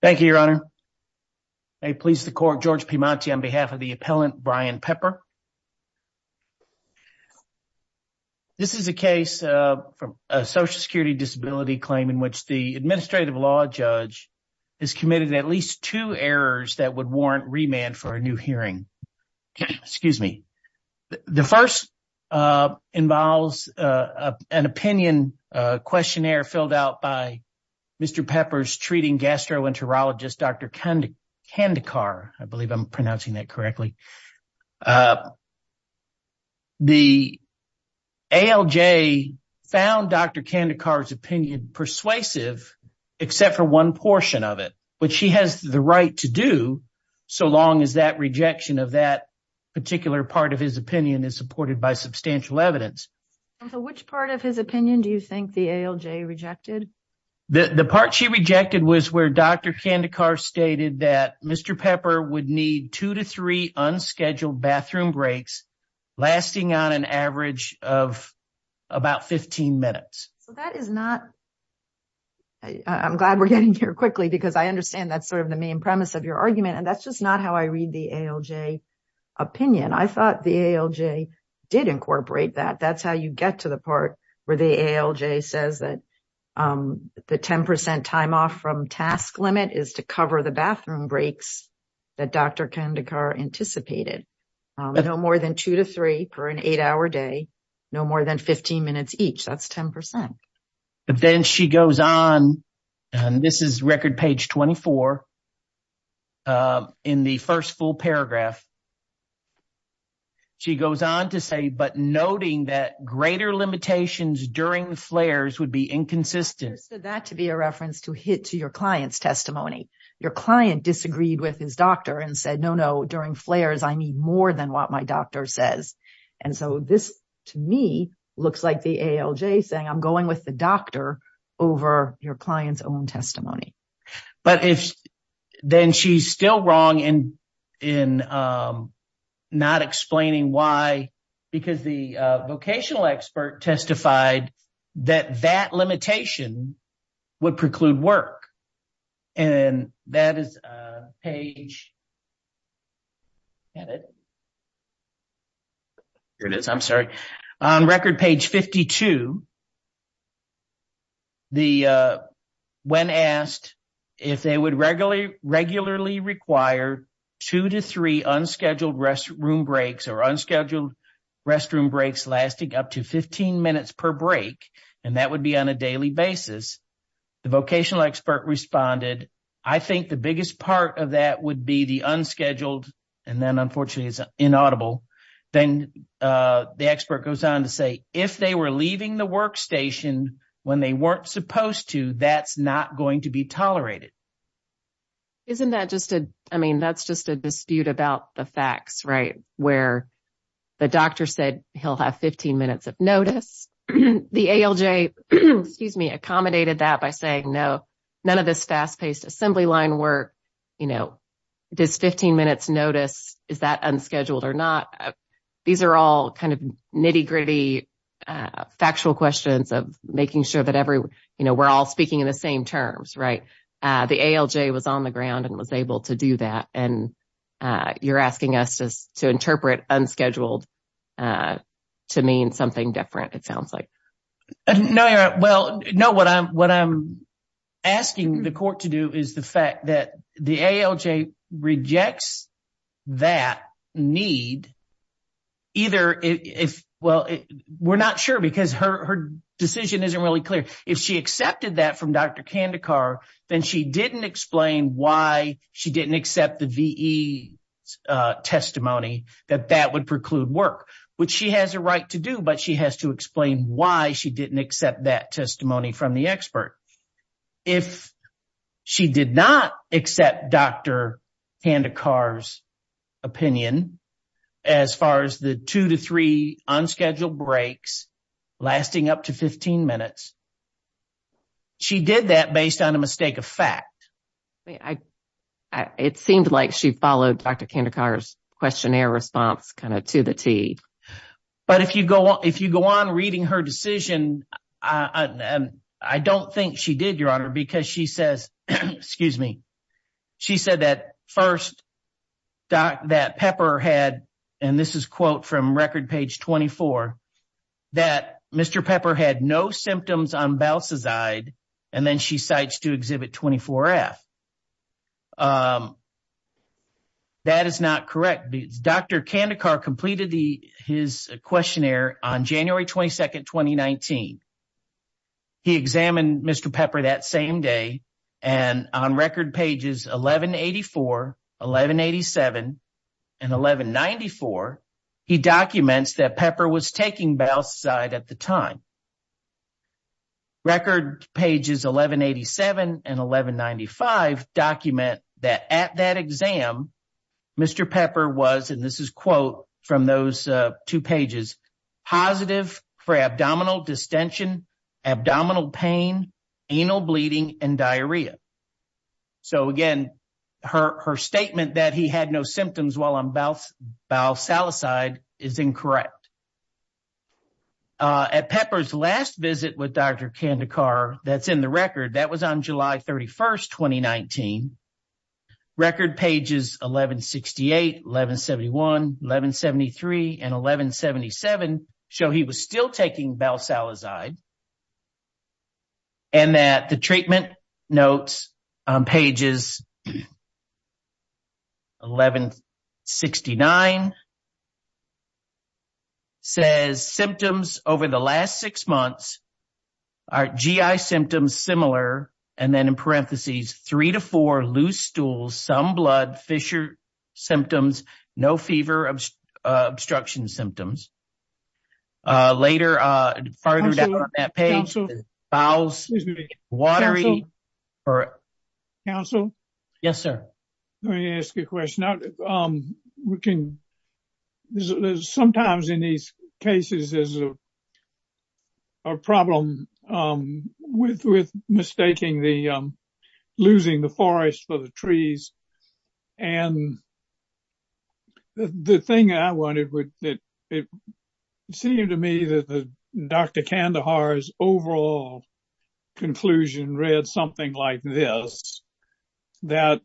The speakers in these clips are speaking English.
Thank you, Your Honor. I please the court, George Piemonte, on behalf of the appellant Brian Pepper. This is a case from a social security disability claim in which the administrative law judge has committed at least two errors that would warrant remand for a new hearing. Excuse me. The first involves an opinion questionnaire filled out by Mr. Pepper's treating gastroenterologist, Dr. Kandekar. I believe I'm pronouncing that correctly. The ALJ found Dr. Kandekar's opinion persuasive except for one portion of it, which she has the right to do so long as that rejection of that particular part of his opinion is supported by substantial evidence. Which part of his opinion do you think the ALJ rejected? The part she rejected was where Dr. Kandekar stated that Mr. Pepper would need two to three unscheduled bathroom breaks lasting on an average of about 15 minutes. So that is not, I'm glad we're getting here quickly because I understand that's sort of the main premise of your argument. And that's just not how I read the ALJ opinion. I thought the ALJ did incorporate that. That's how you get to the part where the ALJ says that the 10% time off from task limit is to cover the bathroom breaks that Dr. Kandekar anticipated. No more than two to three per an eight hour day, no more than 15 minutes each. That's 10%. But then she goes on, and this is record page 24 in the first full paragraph. She goes on to say, but noting that greater limitations during flares would be inconsistent. That to be a reference to hit to your client's testimony. Your client disagreed with his doctor and said, no, no, during flares, I need more than what my doctor says. And so this to me looks like the ALJ saying, I'm going with the doctor over your client's own testimony. But then she's still wrong in not explaining why, because the vocational expert testified that that limitation would preclude work. And that is page, here it is, I'm sorry. On record page 52, when asked if they would regularly require two to three unscheduled restroom breaks or unscheduled restroom breaks lasting up to 15 minutes per break, and that would be on a daily basis, the vocational expert responded, I think the biggest part of that would be the unscheduled, and then unfortunately it's inaudible. Then the expert goes on to say, if they were leaving the workstation when they weren't supposed to, that's not going to be tolerated. Isn't that just a, I mean, that's just a dispute about the facts, right? Where the doctor said he'll have 15 minutes of notice. The ALJ, excuse me, accommodated that by saying, no, none of this fast-paced assembly line work, you know, this 15 minutes notice, is that unscheduled or not? These are all kind of nitty-gritty factual questions of making sure that every, you know, we're all speaking in the same terms, right? The ALJ was on the ground and was able to do that, and you're asking us to interpret unscheduled to mean something different, it sounds like. No, you're right. Well, no, what I'm asking the court to do is the fact that the ALJ rejects that need, either if, well, we're not sure because her decision isn't really clear. If she accepted that from Dr. Kandekar, then she didn't explain why she didn't accept the VE testimony that that would preclude work, which she has a right to do, but she has to explain why she didn't accept that testimony from the expert. If she did not accept Dr. Kandekar's opinion as far as the two to three unscheduled breaks lasting up to 15 minutes, she did that based on a mistake of fact. It seemed like she followed Dr. Kandekar's questionnaire response kind of to the T. But if you go on reading her decision, I don't think she did, Your Honor, because she says, excuse me, she said that first, that Pepper had, and this is quote from record page 24, that Mr. Pepper had no symptoms on Balsazide, and then she cites to exhibit 24F. That is not correct. Dr. Kandekar completed his questionnaire on January 22, 2019. He examined Mr. Pepper that same day, and on record pages 1184, 1187, and 1194, he documents that Pepper was taking Balsazide at the time. Record pages 1187 and 1195 document that at that exam, Mr. Pepper was, and this is quote from those two pages, positive for abdominal distension, abdominal pain, anal bleeding, and diarrhea. So again, her statement that he had no symptoms while on Balsazide is incorrect. At Pepper's last visit with Dr. Kandekar, that's in the record, that was on July 31, 2019. Record pages 1168, 1171, 1173, and 1177 show he was still taking Balsazide, and that the treatment notes on pages 1169 and 1171 says symptoms over the last six months are GI symptoms similar, and then in parentheses, three to four loose stools, some blood, fissure symptoms, no fever, obstruction symptoms. Later, further down that page, bowels, watery, or- There's sometimes in these cases, there's a problem with mistaking the- losing the forest for the trees, and the thing I wanted was that it seemed to me that Dr. Kandekar's overall conclusion read something like this, that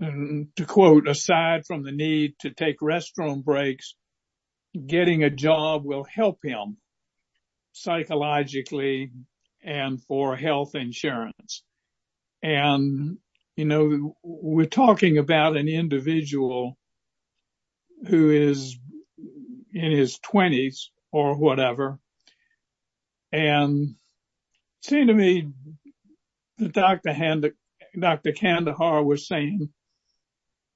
to quote, aside from the need to take restroom breaks, getting a job will help him psychologically and for health insurance. And, you know, we're talking about an individual who is in his 20s or whatever, and it seemed to me that Dr. Kandekar was saying,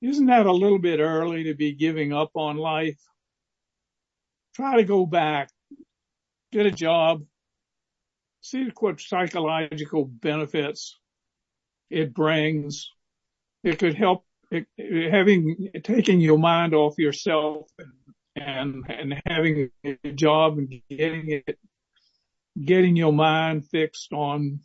isn't that a little bit early to be giving up on life? Try to go back, get a job, see what psychological benefits it brings. It could help- having- taking your mind off yourself and having a job and getting it- getting your mind fixed on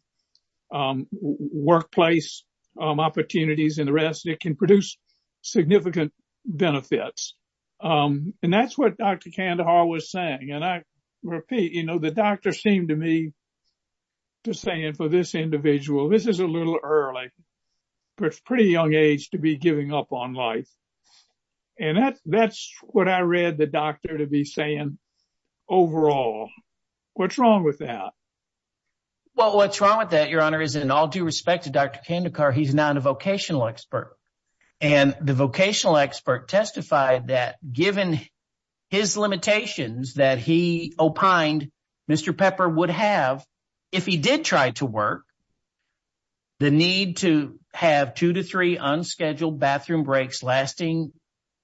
workplace opportunities and the rest, it can produce significant benefits. That's what Dr. Kandekar was saying, and I repeat, you know, the doctor seemed to me to saying for this individual, this is a little early, but pretty young age to be giving up on life. And that's what I read the doctor to be saying overall. What's wrong with that? Well, what's wrong with that, Your Honor, is in all due respect to Dr. Kandekar, he's not a vocational expert. And the vocational expert testified that given his limitations that he opined Mr. Pepper would have, if he did try to work, the need to have two to three unscheduled bathroom breaks lasting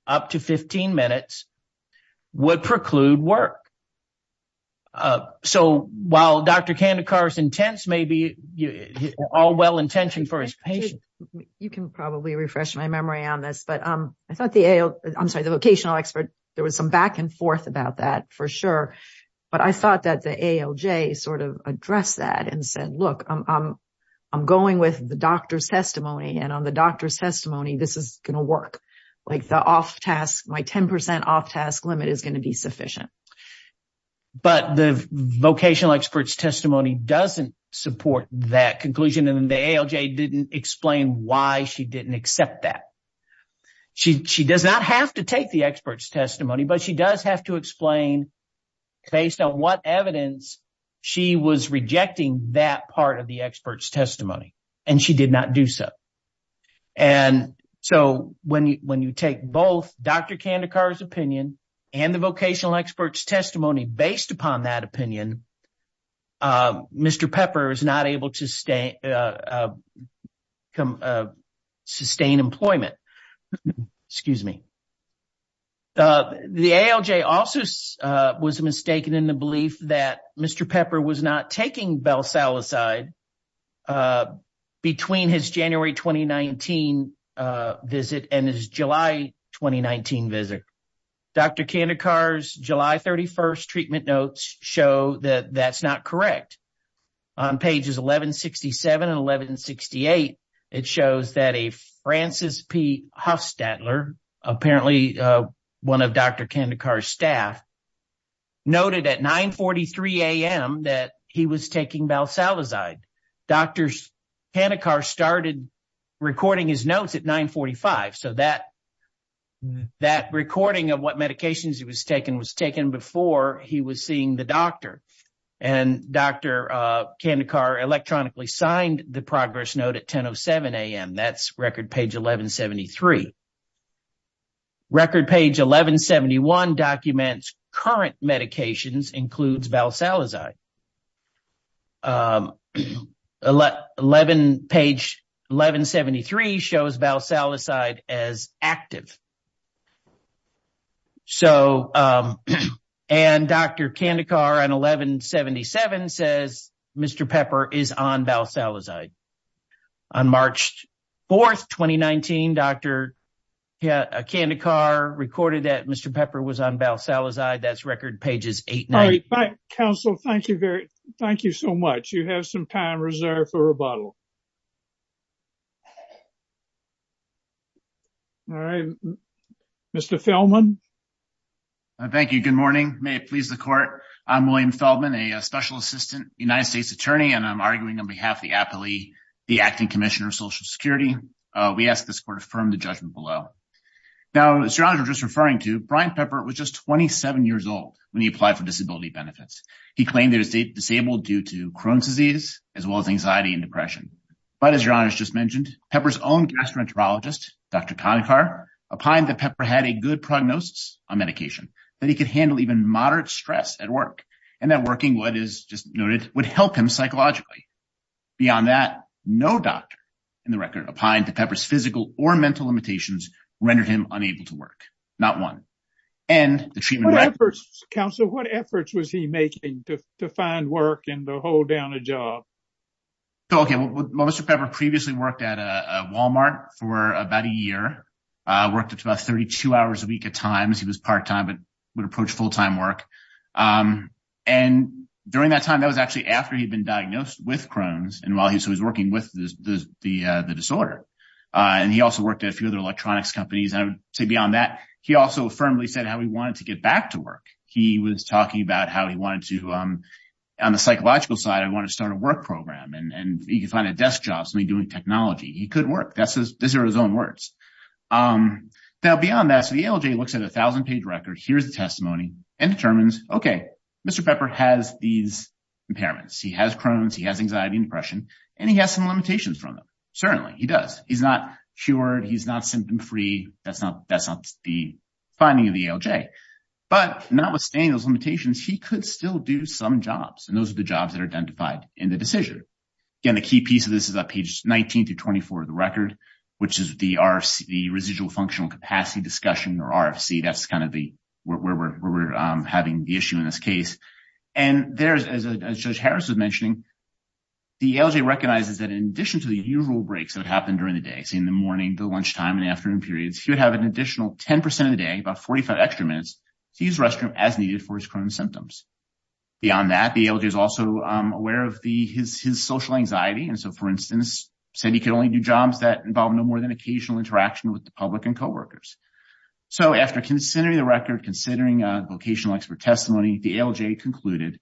up to 15 minutes would preclude work. So while Dr. Kandekar's intents may be all well-intentioned for his patient- You can probably refresh my memory on this, but I thought the AL- I'm sorry, the vocational expert, there was some back and forth about that for sure. But I thought that the ALJ sort of addressed that and said, look, I'm going with the doctor's testimony and on the doctor's testimony, this is going to work. Like the off-task, my 10% off-task limit is going to be sufficient. But the vocational expert's testimony doesn't support that conclusion and the ALJ didn't explain why she didn't accept that. She does not have to take the expert's testimony, but she does have to explain based on what evidence she was rejecting that part of the expert's testimony. And she did not do so. And so when you take both Dr. Kandekar's opinion and the vocational expert's testimony based upon that opinion, Mr. Pepper is not able to sustain employment. Excuse me. The ALJ also was mistaken in the belief that Mr. Pepper was not taking balsalicide between his January 2019 visit and his July 2019 visit. Dr. Kandekar's July 31st treatment notes show that that's not correct. On pages 1167 and 1168, it shows that a Francis P. Hufstadler, apparently one of Dr. Kandekar's staff, noted at 9.43 a.m. that he was taking balsalicide. Dr. Kandekar started recording his notes at 9.45, so that recording of what medications he was taking was taken before he was seeing the doctor. And Dr. Kandekar electronically signed the progress note at 10.07 a.m. That's record page 1173. Record page 1171 documents current medications includes balsalicide. Page 1173 shows balsalicide as active. And Dr. Kandekar on 1177 says Mr. Pepper is on balsalicide. On March 4th, 2019, Dr. Kandekar recorded that Mr. Pepper was on balsalicide. That's record pages 890. All right. Counsel, thank you so much. You have some time reserved for rebuttal. All right. Mr. Feldman. Thank you. Good morning. May it please the court. I'm William Feldman, a Special Assistant United States Attorney, and I'm arguing on behalf of the Acting Commissioner of Social Security. We ask this court to affirm the judgment below. Now, as your Honor is just referring to, Brian Pepper was just 27 years old when he applied for disability benefits. He claimed disabled due to Crohn's disease, as well as anxiety and depression. But as your Honor has just mentioned, Pepper's own gastroenterologist, Dr. Kandekar, opined that Pepper had a good prognosis on medication, that he could handle even moderate stress at work, and that working, what is just noted, would help him psychologically. Beyond that, no doctor in the record opined that Pepper's physical or mental limitations rendered him unable to work. Not one. And the treatment- Counsel, what efforts was he making to find work and to hold down a job? Okay. Well, Mr. Pepper previously worked at a Walmart for about a year, worked about 32 hours a week at times. He was part-time, but would approach full-time work. And during that time, that was actually after he'd been diagnosed with Crohn's, and while he was working with the disorder. And he also worked at a few other electronics companies. I would say beyond that, he also firmly said how he wanted to get back to work. He was talking about how he wanted to, on the psychological side, he wanted to start a work program, and he could find a desk job, something doing technology. He couldn't work. Those are his own words. Now, beyond that, so the ALJ looks at a thousand-page record, hears the testimony, and determines, okay, Mr. Pepper has these impairments. He has Crohn's, he has anxiety and depression, and he has some limitations from them. Certainly, he does. He's not cured, he's not symptom-free, that's not the finding of the ALJ. But notwithstanding those limitations, he could still do some jobs, and those are the jobs that are identified in the decision. Again, the key piece of this is on pages 19 through 24 of the record, which is the RFC, the Residual Functional Capacity Discussion, or RFC. That's kind of where we're having the issue in this case. And there's, as Judge Harris was mentioning, the ALJ recognizes that in addition to the usual breaks that happen during the day, so in the morning, the lunchtime, and afternoon periods, he would have an additional 10% of the day, about 45 extra minutes, to use the restroom as needed for his Crohn's symptoms. Beyond that, the ALJ is also aware of his social anxiety, and so, for instance, said he could only do jobs that involved no more than occasional interaction with the public and coworkers. So, after considering the record, considering a vocational expert testimony, the ALJ concluded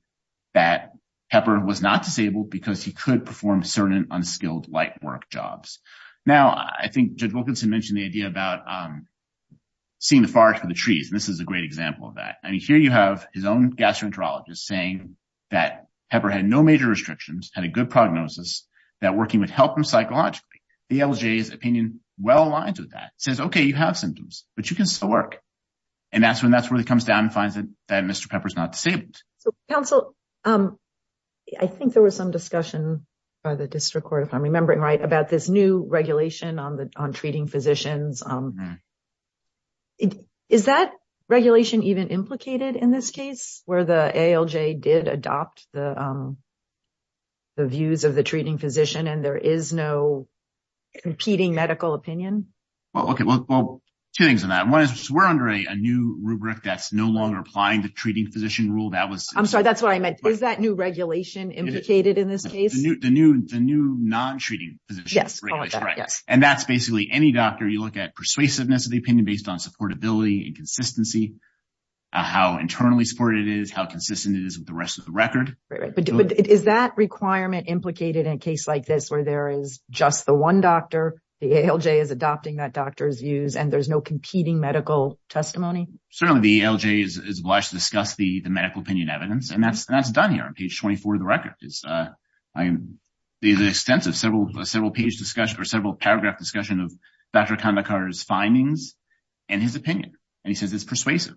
that Pepper was not disabled because he could perform certain unskilled light work jobs. Now, I think Judge Wilkinson mentioned the idea about seeing the forest for the trees, and this is a great example of that. I mean, here you have his own gastroenterologist saying that Pepper had no major restrictions, had a good prognosis, that working would help him psychologically. The ALJ's opinion well aligns with that. It says, okay, you have symptoms, but you can still work. And that's when that's where he comes down and finds that Mr. Pepper's not disabled. So, counsel, I think there was some discussion by the district court, if I'm remembering right, about this new regulation on treating physicians. Is that regulation even implicated in this case, where the ALJ did adopt the views of the treating physician and there is no competing medical opinion? Well, okay. Well, two things on that. One is we're under a new rubric that's no longer applying the treating physician rule. That was- I'm sorry, that's what I meant. Is that new implicated in this case? The new non-treating physician. Yes. And that's basically any doctor, you look at persuasiveness of the opinion based on supportability and consistency, how internally supported it is, how consistent it is with the rest of the record. Right. But is that requirement implicated in a case like this where there is just the one doctor, the ALJ is adopting that doctor's views, and there's no competing medical testimony? Certainly, the ALJ is obliged to discuss the medical opinion evidence, and that's done here on page 24 of the record. There's an extensive several- several page discussion or several paragraph discussion of Dr. Khanda Carter's findings and his opinion. And he says it's persuasive.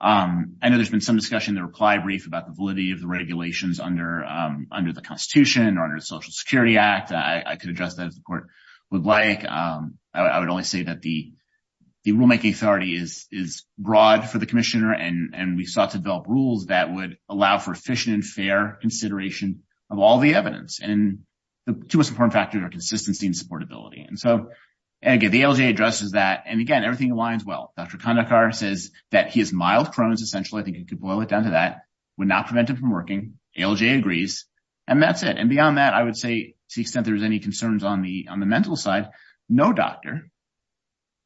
I know there's been some discussion in the reply brief about the validity of the regulations under the constitution or under the Social Security Act. I could address that as the court would like. I would only say that the rulemaking authority is broad for the commissioner and we sought to develop rules that would allow for efficient and fair consideration of all the evidence. And the two most important factors are consistency and supportability. And so, again, the ALJ addresses that. And again, everything aligns well. Dr. Khanda Carter says that he is mild Crohn's essentially, I think I could boil it down to that, would not prevent him from working. ALJ agrees. And that's it. And beyond that, I would say, to the extent there's any concerns on the mental side, no doctor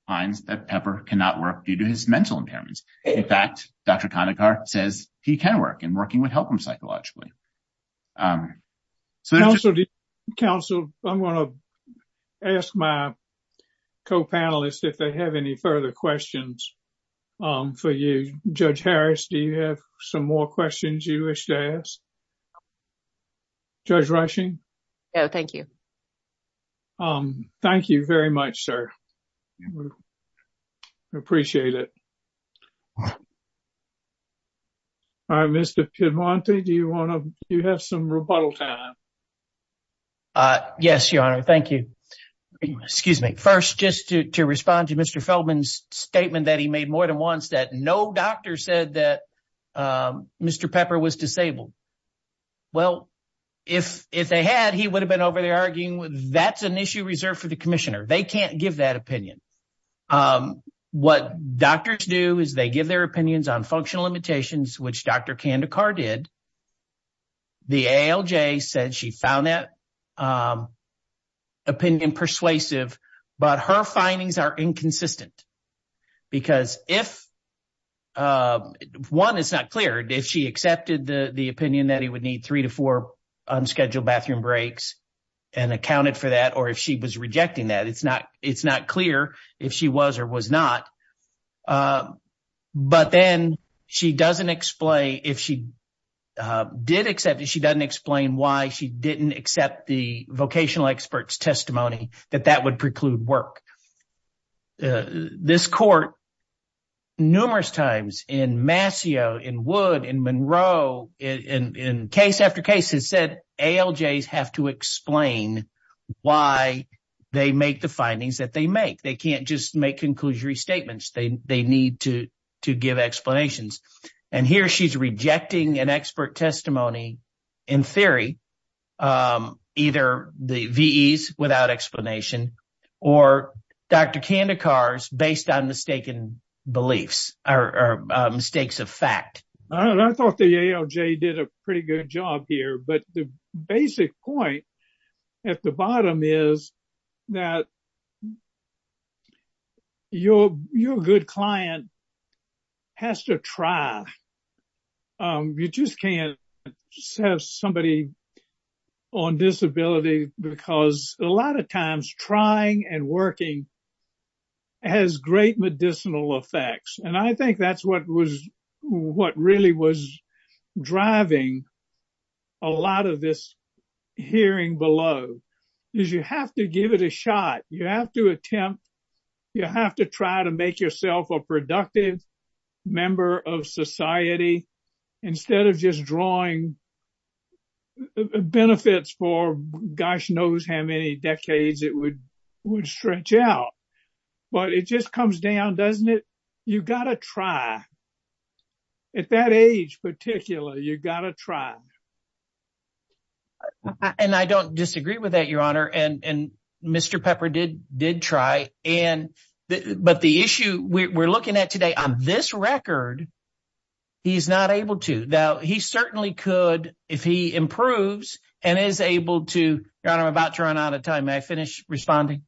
finds that Pepper cannot work due to his mental impairments. In fact, Dr. Khanda Carter says he can work and working would help him psychologically. Um, so- Counsel, counsel, I'm going to ask my co-panelists if they have any further questions for you. Judge Harris, do you have some more questions you wish to ask? Judge Rushing? No, thank you. Um, thank you very much, sir. I appreciate it. All right, Mr. Piedmonte, do you want to, do you have some rebuttal time? Uh, yes, Your Honor. Thank you. Excuse me. First, just to respond to Mr. Feldman's statement that he made more than once that no doctor said that Mr. Pepper was disabled. Well, if they had, he would have been over there arguing with, that's an issue reserved for the commissioner. They can't give that opinion. Um, what doctors do is they give their opinions on functional limitations, which Dr. Khanda Carter did. The ALJ said she found that, um, opinion persuasive, but her findings are inconsistent. Because if, um, one, it's not clear if she accepted the, opinion that he would need three to four unscheduled bathroom breaks and accounted for that, or if she was rejecting that, it's not, it's not clear if she was or was not. Um, but then she doesn't explain, if she, um, did accept it, she doesn't explain why she didn't accept the vocational expert's testimony, that that would preclude work. Uh, this court, numerous times in Mascio, in Wood, in Monroe, in, in, in case after case, has said ALJs have to explain why they make the findings that they make. They can't just make conclusory statements. They, they need to, to give explanations. And here she's rejecting an expert testimony, in theory, um, either the VEs without explanation, or Dr. Khanda Carter's based on mistaken beliefs or, or mistakes of fact. I thought the ALJ did a pretty good job here, but the basic point at the bottom is that your, your good client has to try, um, you just can't just have somebody on disability because a lot of times trying and working has great medicinal effects. And I think that's what was, what really was driving a lot of this hearing below, is you have to give it a shot. You have to attempt, you have to try to make yourself a productive member of society, instead of just drawing benefits for gosh knows how many decades it would, would stretch out. But it just comes down, doesn't it? You gotta try. At that age, particularly, you gotta try. I, and I don't disagree with that, Your Honor. And, and Mr. Pepper did, did try. And the, but the issue we're looking at today, on this record, he's not able to. Now, he certainly could, if he improves and is able to, Your Honor, I'm about to run out of time. May I finish responding?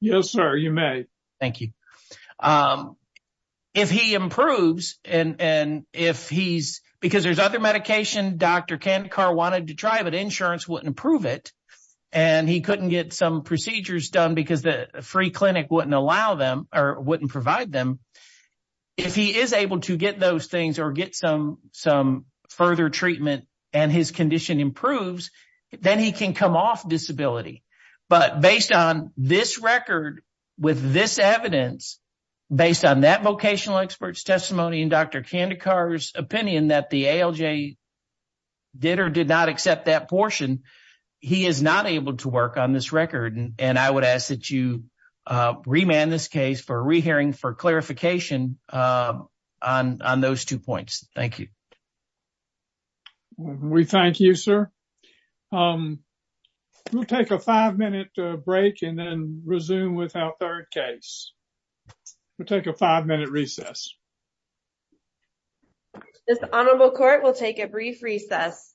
Yes, sir, you may. Thank you. Um, if he improves and, and if he's, because there's other medication Dr. Kandekar wanted to try, but insurance wouldn't approve it, and he couldn't get some procedures done because the free clinic wouldn't allow them, or wouldn't provide them. If he is able to get those things, or get some, some further treatment, and his condition improves, then he can come off disability. But based on this record, with this evidence, based on that vocational expert's testimony, and Dr. Kandekar's opinion, that the ALJ did or did not accept that portion, he is not able to work on this record. And, and I would ask that you, uh, remand this case for a re-hearing for clarification, uh, on, on those two points. Thank you. We thank you, sir. Um, we'll take a five-minute break and then resume with our third case. We'll take a five-minute recess. This honorable court will take a brief recess.